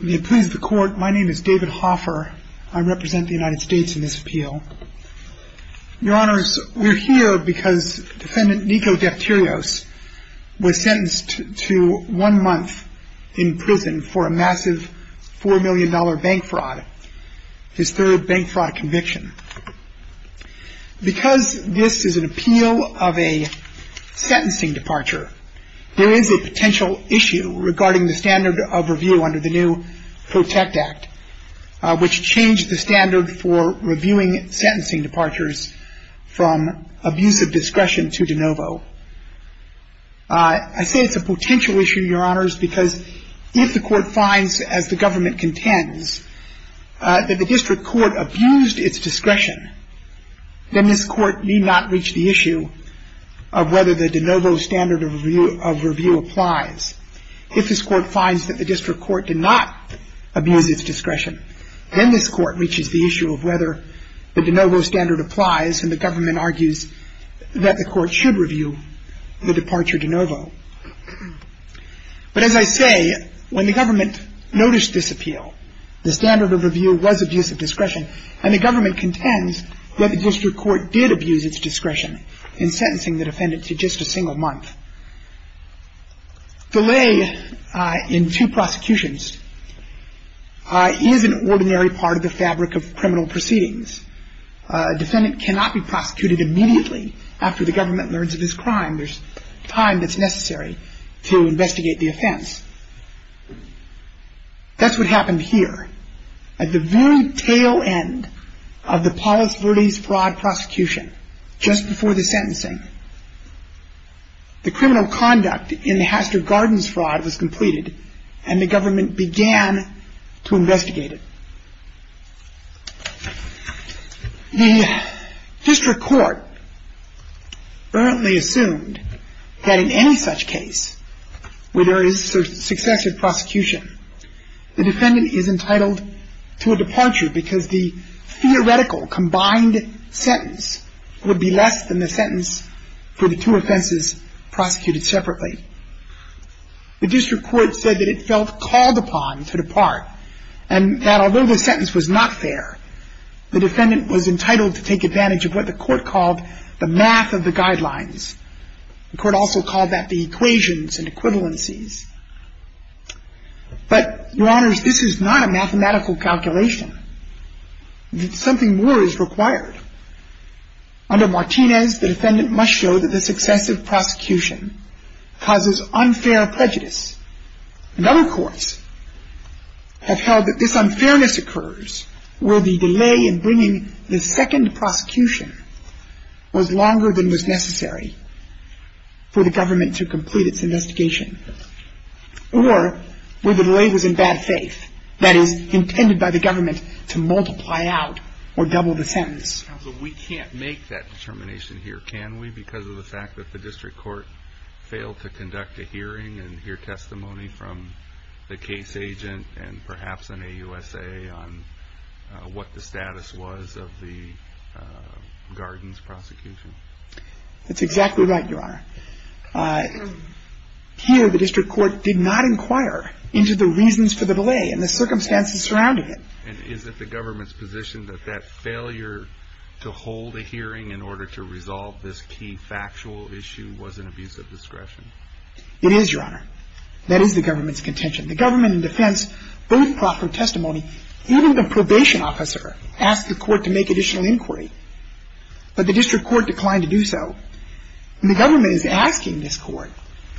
My name is David Hoffer. I represent the United States in this appeal. Your Honors, we're here because Defendant Nico Defterios was sentenced to one month in prison for a massive $4 million bank fraud, his third bank fraud conviction. Because this is an appeal of a sentencing departure, there is a potential issue regarding the standard of review under the new PROTECT Act, which changed the standard for reviewing sentencing departures from abusive discretion to de novo. I say it's a potential issue, Your Honors, because if the court finds, as the government contends, that the district court abused its discretion, then this court need not reach the issue of whether the de novo standard of review applies. If this court finds that the district court did not abuse its discretion, then this court reaches the issue of whether the de novo standard applies, and the government argues that the court should review the departure de novo. But as I say, when the government noticed this appeal, the standard of review was abusive discretion, and the government contends that the district court did abuse its discretion in sentencing the defendant to just a single month. Delay in two prosecutions is an ordinary part of the fabric of criminal proceedings. A defendant cannot be prosecuted immediately after the government learns of his crime. There's time that's necessary to investigate the offense. That's what happened here, at the very tail end of the Paulus Verdi's fraud prosecution, just before the sentencing. The criminal conduct in the Hastert Gardens fraud was completed, and the government began to investigate it. The district court apparently assumed that in any such case where there is successive prosecution, the defendant is entitled to a departure because the theoretical combined sentence would be less than the sentence for the two offenses prosecuted separately. The district court said that it felt called upon to depart, and that although the sentence was not fair, the defendant was entitled to take advantage of what the court called the math of the guidelines. The court also called that the equations and equivalencies. But, Your Honors, this is not a mathematical calculation. Something more is required. Under Martinez, the defendant must show that the successive prosecution causes unfair prejudice. And other courts have held that this unfairness occurs where the delay in bringing the second prosecution was longer than was necessary for the government to complete its investigation. Or, where the delay was in bad faith, that is, intended by the government to multiply out or double the sentence. Counsel, we can't make that determination here, can we? Because of the fact that the district court failed to conduct a hearing and hear testimony from the case agent and perhaps an AUSA on what the status was of the Gardens prosecution. That's exactly right, Your Honor. Here, the district court did not inquire into the reasons for the delay and the circumstances surrounding it. And is it the government's position that that failure to hold a hearing in order to resolve this key factual issue was an abuse of discretion? It is, Your Honor. That is the government's contention. The government in defense both proffered testimony. Even the probation officer asked the court to make additional inquiry. But the district court declined to do so. And the government is asking this court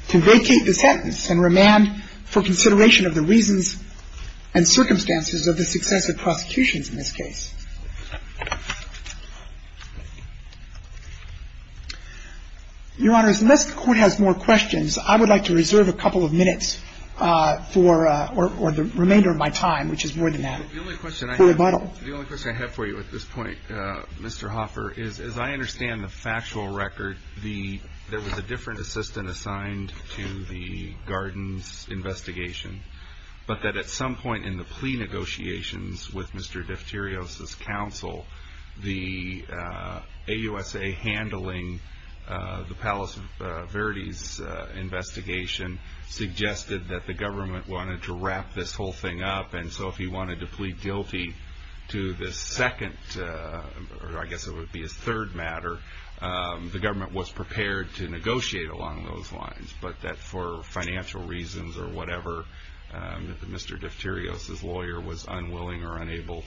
to vacate the sentence and remand for consideration of the reasons and circumstances of the successive prosecutions in this case. Your Honor, unless the court has more questions, I would like to reserve a couple of minutes for the remainder of my time, which is more than that, for rebuttal. The only question I have for you at this point, Mr. Hoffer, is, as I understand the factual record, there was a different assistant assigned to the Gardens investigation. But that at some point in the plea negotiations with Mr. Defterios' counsel, the AUSA handling the Palace of Verities investigation suggested that the government wanted to wrap this whole thing up. And so if he wanted to plead guilty to the second, or I guess it would be his third matter, the government was prepared to negotiate along those lines. But that for financial reasons or whatever, Mr. Defterios' lawyer was unwilling or unable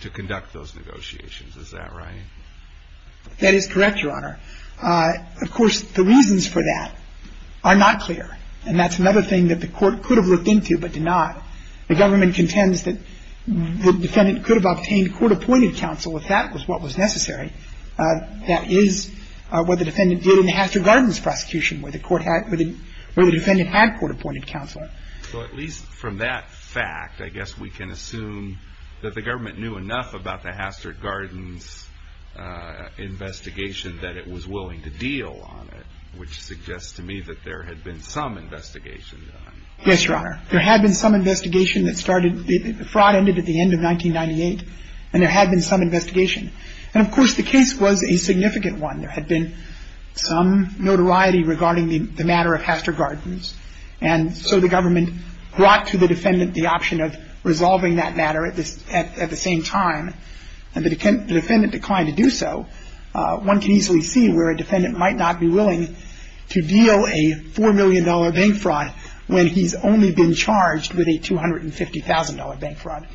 to conduct those negotiations. Is that right? That is correct, Your Honor. Of course, the reasons for that are not clear. And that's another thing that the court could have looked into but did not. The government contends that the defendant could have obtained court-appointed counsel if that was what was necessary. That is what the defendant did in the Hastert Gardens prosecution, where the defendant had court-appointed counsel. So at least from that fact, I guess we can assume that the government knew enough about the Hastert Gardens investigation that it was willing to deal on it, which suggests to me that there had been some investigation done. Yes, Your Honor. There had been some investigation that started. The fraud ended at the end of 1998. And there had been some investigation. And, of course, the case was a significant one. There had been some notoriety regarding the matter of Hastert Gardens. And so the government brought to the defendant the option of resolving that matter at the same time. And the defendant declined to do so. So one can easily see where a defendant might not be willing to deal a $4 million bank fraud when he's only been charged with a $250,000 bank fraud.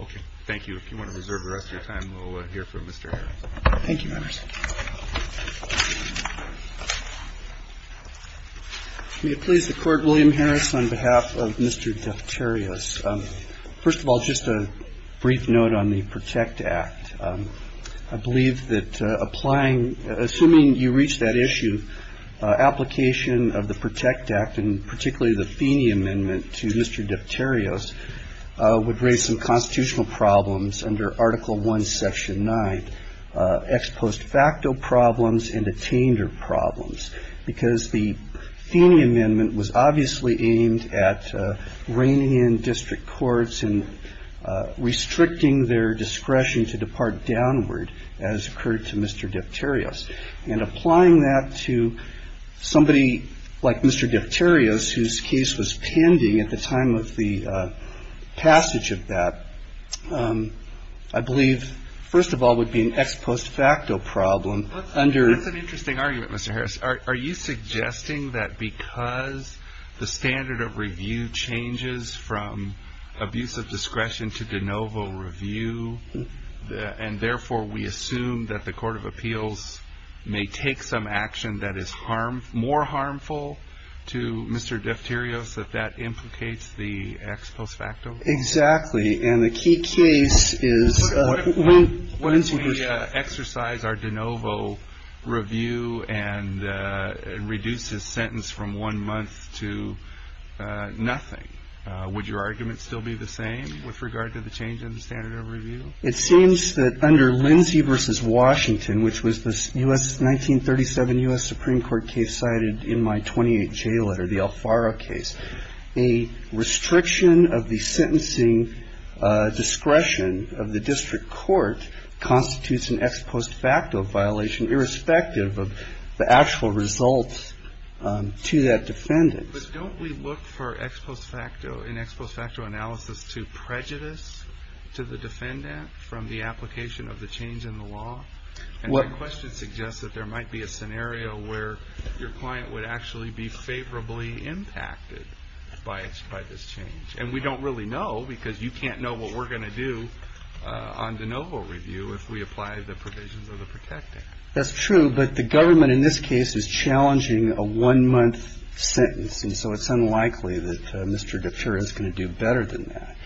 Okay. Thank you. If you want to reserve the rest of your time, we'll hear from Mr. Harris. Thank you, Your Honor. May it please the Court, William Harris, on behalf of Mr. Defterios. First of all, just a brief note on the PROTECT Act. I believe that applying, assuming you reach that issue, application of the PROTECT Act, and particularly the Feeney Amendment to Mr. Defterios, would raise some constitutional problems under Article I, Section 9, ex post facto problems and attainder problems. Because the Feeney Amendment was obviously aimed at reining in district courts and restricting their discretion to depart downward, as occurred to Mr. Defterios. And applying that to somebody like Mr. Defterios, whose case was pending at the time of the passage of that, I believe, first of all, would be an ex post facto problem. That's an interesting argument, Mr. Harris. Are you suggesting that because the standard of review changes from abuse of discretion to de novo review, and therefore we assume that the Court of Appeals may take some action that is more harmful to Mr. Defterios, that that implicates the ex post facto problem? Exactly. And the key case is when we exercise our de novo review and reduce his sentence from one month to nothing, would your argument still be the same with regard to the change in the standard of review? It seems that under Lindsay v. Washington, which was the U.S. 1937 U.S. Supreme Court case cited in my 28 J letter, the Alfaro case, a restriction of the sentencing discretion of the district court constitutes an ex post facto violation, irrespective of the actual results to that defendant. But don't we look for ex post facto analysis to prejudice to the defendant from the application of the change in the law? My question suggests that there might be a scenario where your client would actually be favorably impacted by this change. And we don't really know because you can't know what we're going to do on de novo review if we apply the provisions of the PROTECT Act. That's true, but the government in this case is challenging a one-month sentence, and so it's unlikely that Mr. Deferios is going to do better than that.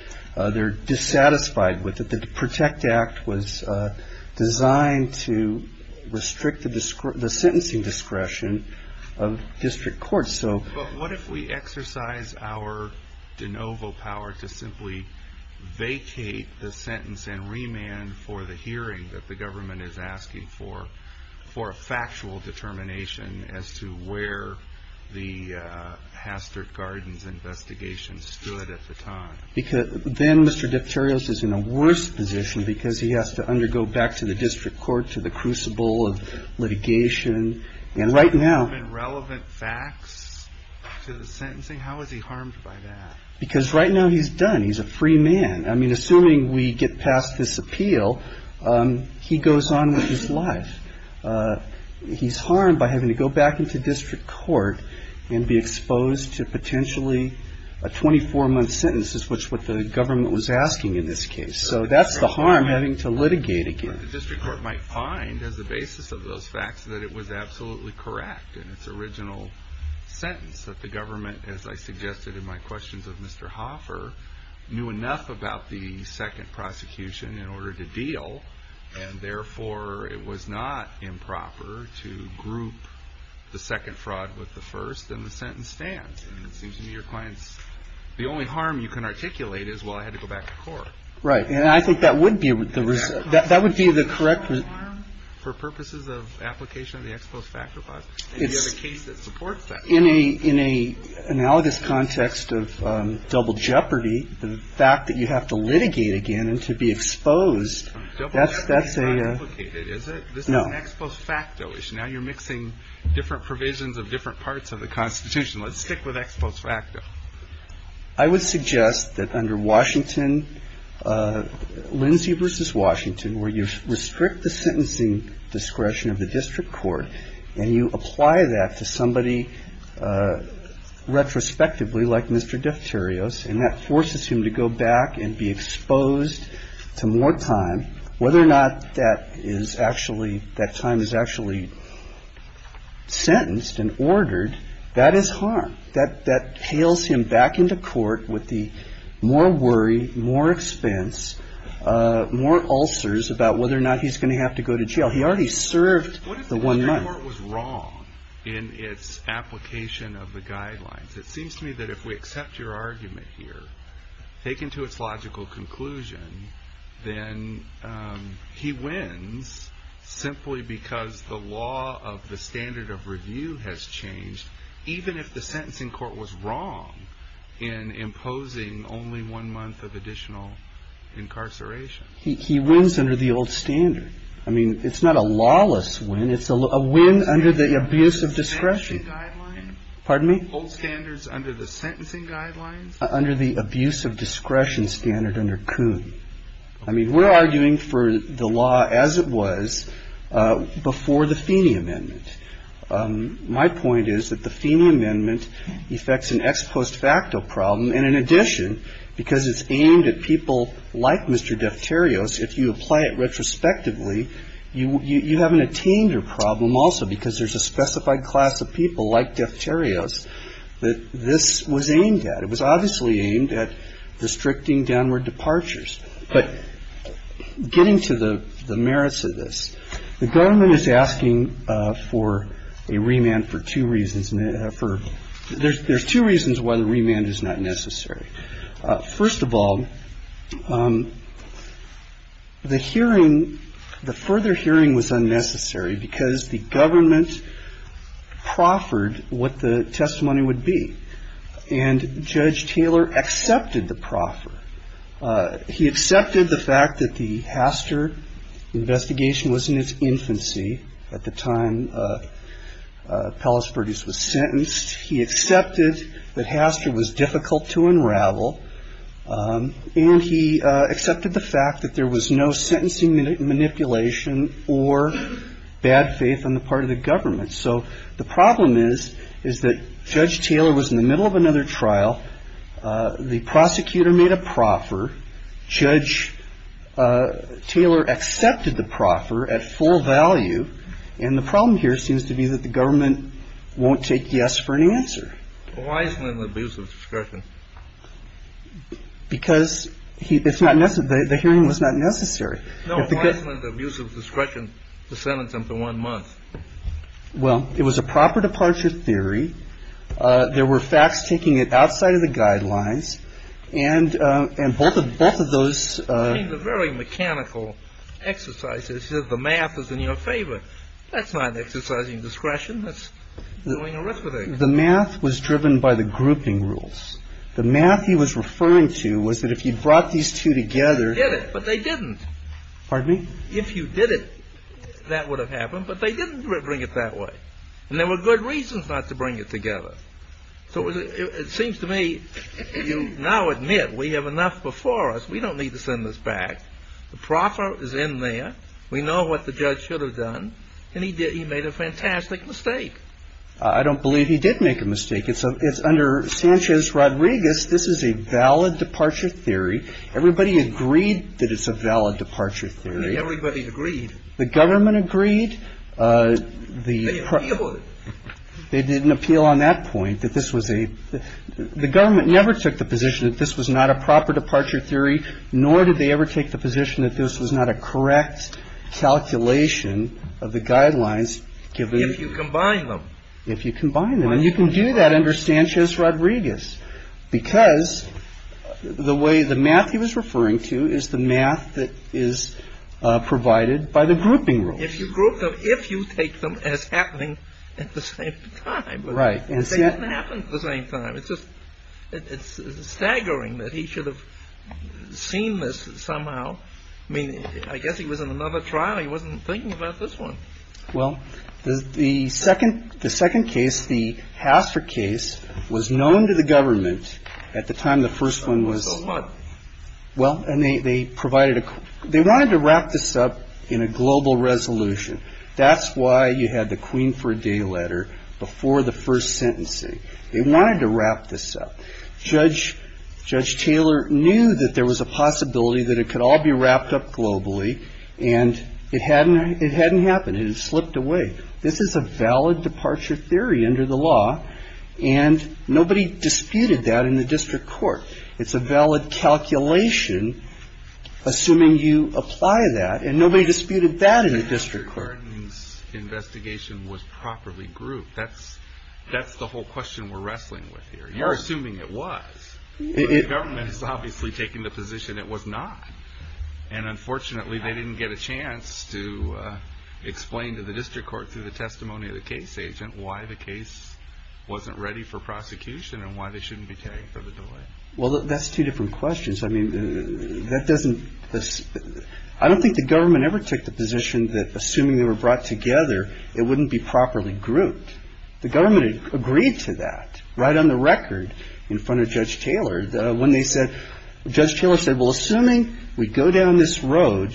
They're dissatisfied with it. The PROTECT Act was designed to restrict the sentencing discretion of district courts. But what if we exercise our de novo power to simply vacate the sentence and remand for the hearing that the government is asking for, for a factual determination as to where the Hastert Gardens investigation stood at the time? Because then Mr. Deferios is in a worse position because he has to undergo back to the district court, to the crucible of litigation. And right now… There have been relevant facts to the sentencing. How is he harmed by that? Because right now he's done. He's a free man. I mean, assuming we get past this appeal, he goes on with his life. He's harmed by having to go back into district court and be exposed to potentially a 24-month sentence, which is what the government was asking in this case. So that's the harm, having to litigate again. The district court might find as the basis of those facts that it was absolutely correct in its original sentence, that the government, as I suggested in my questions of Mr. Hoffer, knew enough about the second prosecution in order to deal, and therefore it was not improper to group the second fraud with the first, and the sentence stands. And it seems to me your client's… The only harm you can articulate is, well, I had to go back to court. Right. And I think that would be the… That would be the correct…… harm for purposes of application of the ex post facto clause. And you have a case that supports that. In an analogous context of double jeopardy, the fact that you have to litigate again and to be exposed… That's a…… is not implicated, is it? No. This is an ex post facto issue. Now you're mixing different provisions of different parts of the Constitution. Let's stick with ex post facto. I would suggest that under Washington, Lindsay v. Washington, where you restrict the sentencing discretion of the district court, and you apply that to somebody retrospectively, like Mr. Defterios, and that forces him to go back and be exposed to more time, whether or not that time is actually sentenced and ordered, that is harm. That hails him back into court with the more worry, more expense, more ulcers about whether or not he's going to have to go to jail. He already served the one month. What if the court was wrong in its application of the guidelines? It seems to me that if we accept your argument here, taken to its logical conclusion, then he wins simply because the law of the standard of review has changed, even if the sentencing court was wrong in imposing only one month of additional incarceration. He wins under the old standard. I mean, it's not a lawless win. It's a win under the abuse of discretion. Excuse me. Pardon me? Old standards under the sentencing guidelines. Under the abuse of discretion standard under Kuhn. I mean, we're arguing for the law as it was before the Feeney Amendment. My point is that the Feeney Amendment effects an ex post facto problem, and in addition, because it's aimed at people like Mr. Defterios, if you apply it retrospectively, you have an attainder problem also, because there's a specified class of people like Defterios that this was aimed at. It was obviously aimed at restricting downward departures. But getting to the merits of this, the government is asking for a remand for two reasons. There's two reasons why the remand is not necessary. First of all, the hearing, the further hearing was unnecessary because the government proffered what the testimony would be. And Judge Taylor accepted the proffer. He accepted the fact that the Haster investigation was in its infancy at the time Pellis Perdue was sentenced. He accepted that Haster was difficult to unravel. And he accepted the fact that there was no sentencing manipulation or bad faith on the part of the government. So the problem is, is that Judge Taylor was in the middle of another trial. The prosecutor made a proffer. Judge Taylor accepted the proffer at full value. And the problem here seems to be that the government won't take yes for an answer. Why isn't it an abuse of discretion? Because it's not necessary. The hearing was not necessary. No, why isn't it an abuse of discretion to sentence him to one month? Well, it was a proper departure theory. There were facts taking it outside of the guidelines. And both of those. It seems a very mechanical exercise. It says the math is in your favor. That's not exercising discretion. That's doing a risk with it. The math was driven by the grouping rules. The math he was referring to was that if he brought these two together. He did it, but they didn't. Pardon me? If you did it, that would have happened. But they didn't bring it that way. And there were good reasons not to bring it together. So it seems to me you now admit we have enough before us. We don't need to send this back. The proffer is in there. We know what the judge should have done. And he made a fantastic mistake. I don't believe he did make a mistake. It's under Sanchez-Rodriguez. This is a valid departure theory. Everybody agreed that it's a valid departure theory. Everybody agreed. The government agreed. They appealed it. They didn't appeal on that point, that this was a the government never took the position that this was not a proper departure theory, nor did they ever take the position that this was not a correct calculation of the guidelines given. If you combine them. If you combine them. And you can do that under Sanchez-Rodriguez because the way the math he was referring to is the math that is provided by the grouping rule. If you group them, if you take them as happening at the same time. Right. They didn't happen at the same time. It's just staggering that he should have seen this somehow. I mean, I guess he was in another trial. He wasn't thinking about this one. Well, the second case, the Hastert case, was known to the government at the time the first one was. So what? Well, and they provided a they wanted to wrap this up in a global resolution. That's why you had the Queen for a Day letter before the first sentencing. They wanted to wrap this up. Judge Taylor knew that there was a possibility that it could all be wrapped up globally. And it hadn't it hadn't happened. It slipped away. This is a valid departure theory under the law. And nobody disputed that in the district court. It's a valid calculation. Assuming you apply that. And nobody disputed that in the district court. Investigation was properly grouped. That's that's the whole question we're wrestling with here. You're assuming it was government has obviously taken the position it was not. And unfortunately, they didn't get a chance to explain to the district court through the testimony of the case agent. Why the case wasn't ready for prosecution and why they shouldn't be paying for the delay. Well, that's two different questions. I mean, that doesn't. I don't think the government ever took the position that assuming they were brought together, it wouldn't be properly grouped. The government agreed to that right on the record in front of Judge Taylor. When they said Judge Taylor said, well, assuming we go down this road,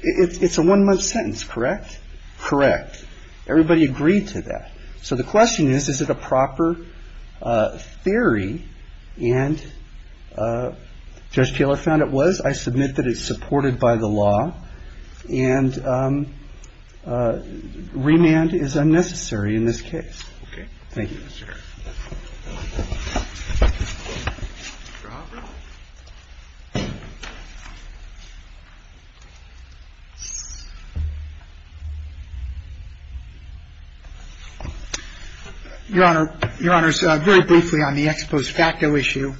it's a one month sentence. Correct. Correct. Everybody agreed to that. So the question is, is it a proper theory? And Judge Taylor found it was. I submit that it's supported by the law. And remand is unnecessary in this case. Okay. Thank you, Mr. Harris. Mr. Hoffman. Your Honor, very briefly on the ex post facto issue.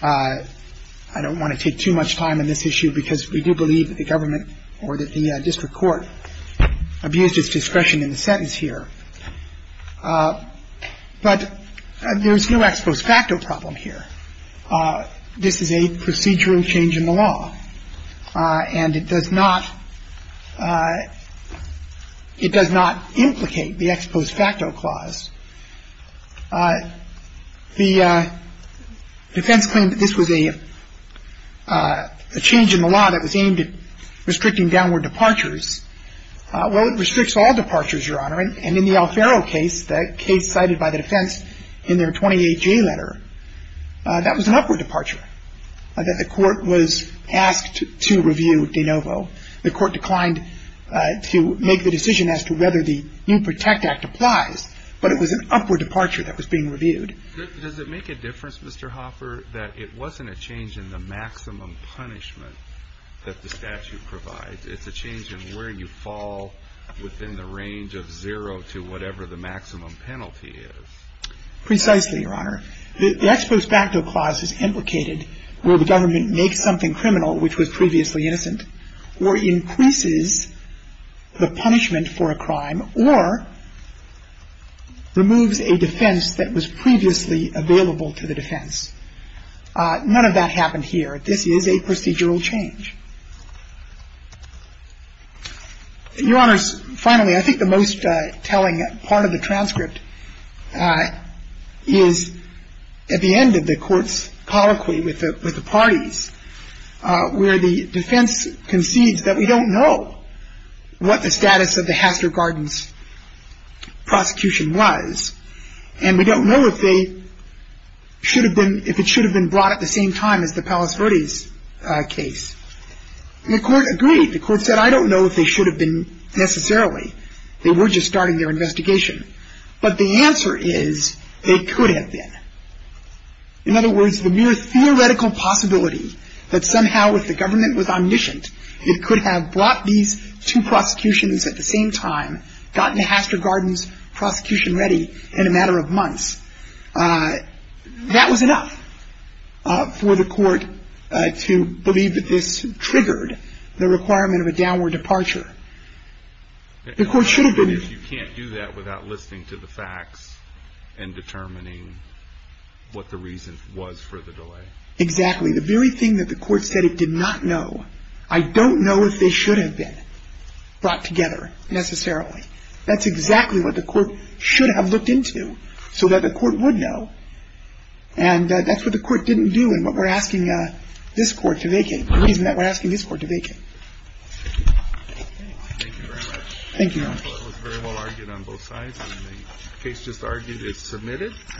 I don't want to take too much time on this issue because we do believe that the government or that the district court abused its discretion in the sentence here. But there is no ex post facto problem here. This is a procedural change in the law. And it does not implicate the ex post facto clause. The defense claimed that this was a change in the law that was aimed at restricting downward departures. Well, it restricts all departures, Your Honor. And in the Alfaro case, the case cited by the defense in their 28-J letter, that was an upward departure, that the court was asked to review de novo. The court declined to make the decision as to whether the new Protect Act applies. But it was an upward departure that was being reviewed. Does it make a difference, Mr. Hoffer, that it wasn't a change in the maximum punishment that the statute provides? It's a change in where you fall within the range of zero to whatever the maximum penalty is. Precisely, Your Honor. The ex post facto clause is implicated where the government makes something criminal, which was previously innocent, or increases the punishment for a crime, or removes a defense that was previously available to the defense. None of that happened here. This is a procedural change. Your Honors, finally, I think the most telling part of the transcript is at the end of the court's colloquy with the parties, where the defense concedes that we don't know what the status of the Hastert Gardens prosecution was, and we don't know if they should have been, if it should have been brought at the same time as the Palos Verdes case. The court agreed. The court said, I don't know if they should have been necessarily. They were just starting their investigation. But the answer is, they could have been. In other words, the mere theoretical possibility that somehow if the government was omniscient, it could have brought these two prosecutions at the same time, gotten the Hastert Gardens prosecution ready in a matter of months. That was enough for the court to believe that this triggered the requirement of a downward departure. The court should have been. If you can't do that without listening to the facts and determining what the reason was for the delay. Exactly. The very thing that the court said it did not know. I don't know if they should have been brought together necessarily. That's exactly what the court should have looked into so that the court would know. And that's what the court didn't do and what we're asking this court to make it, the reason that we're asking this court to make it. Thank you very much. Thank you.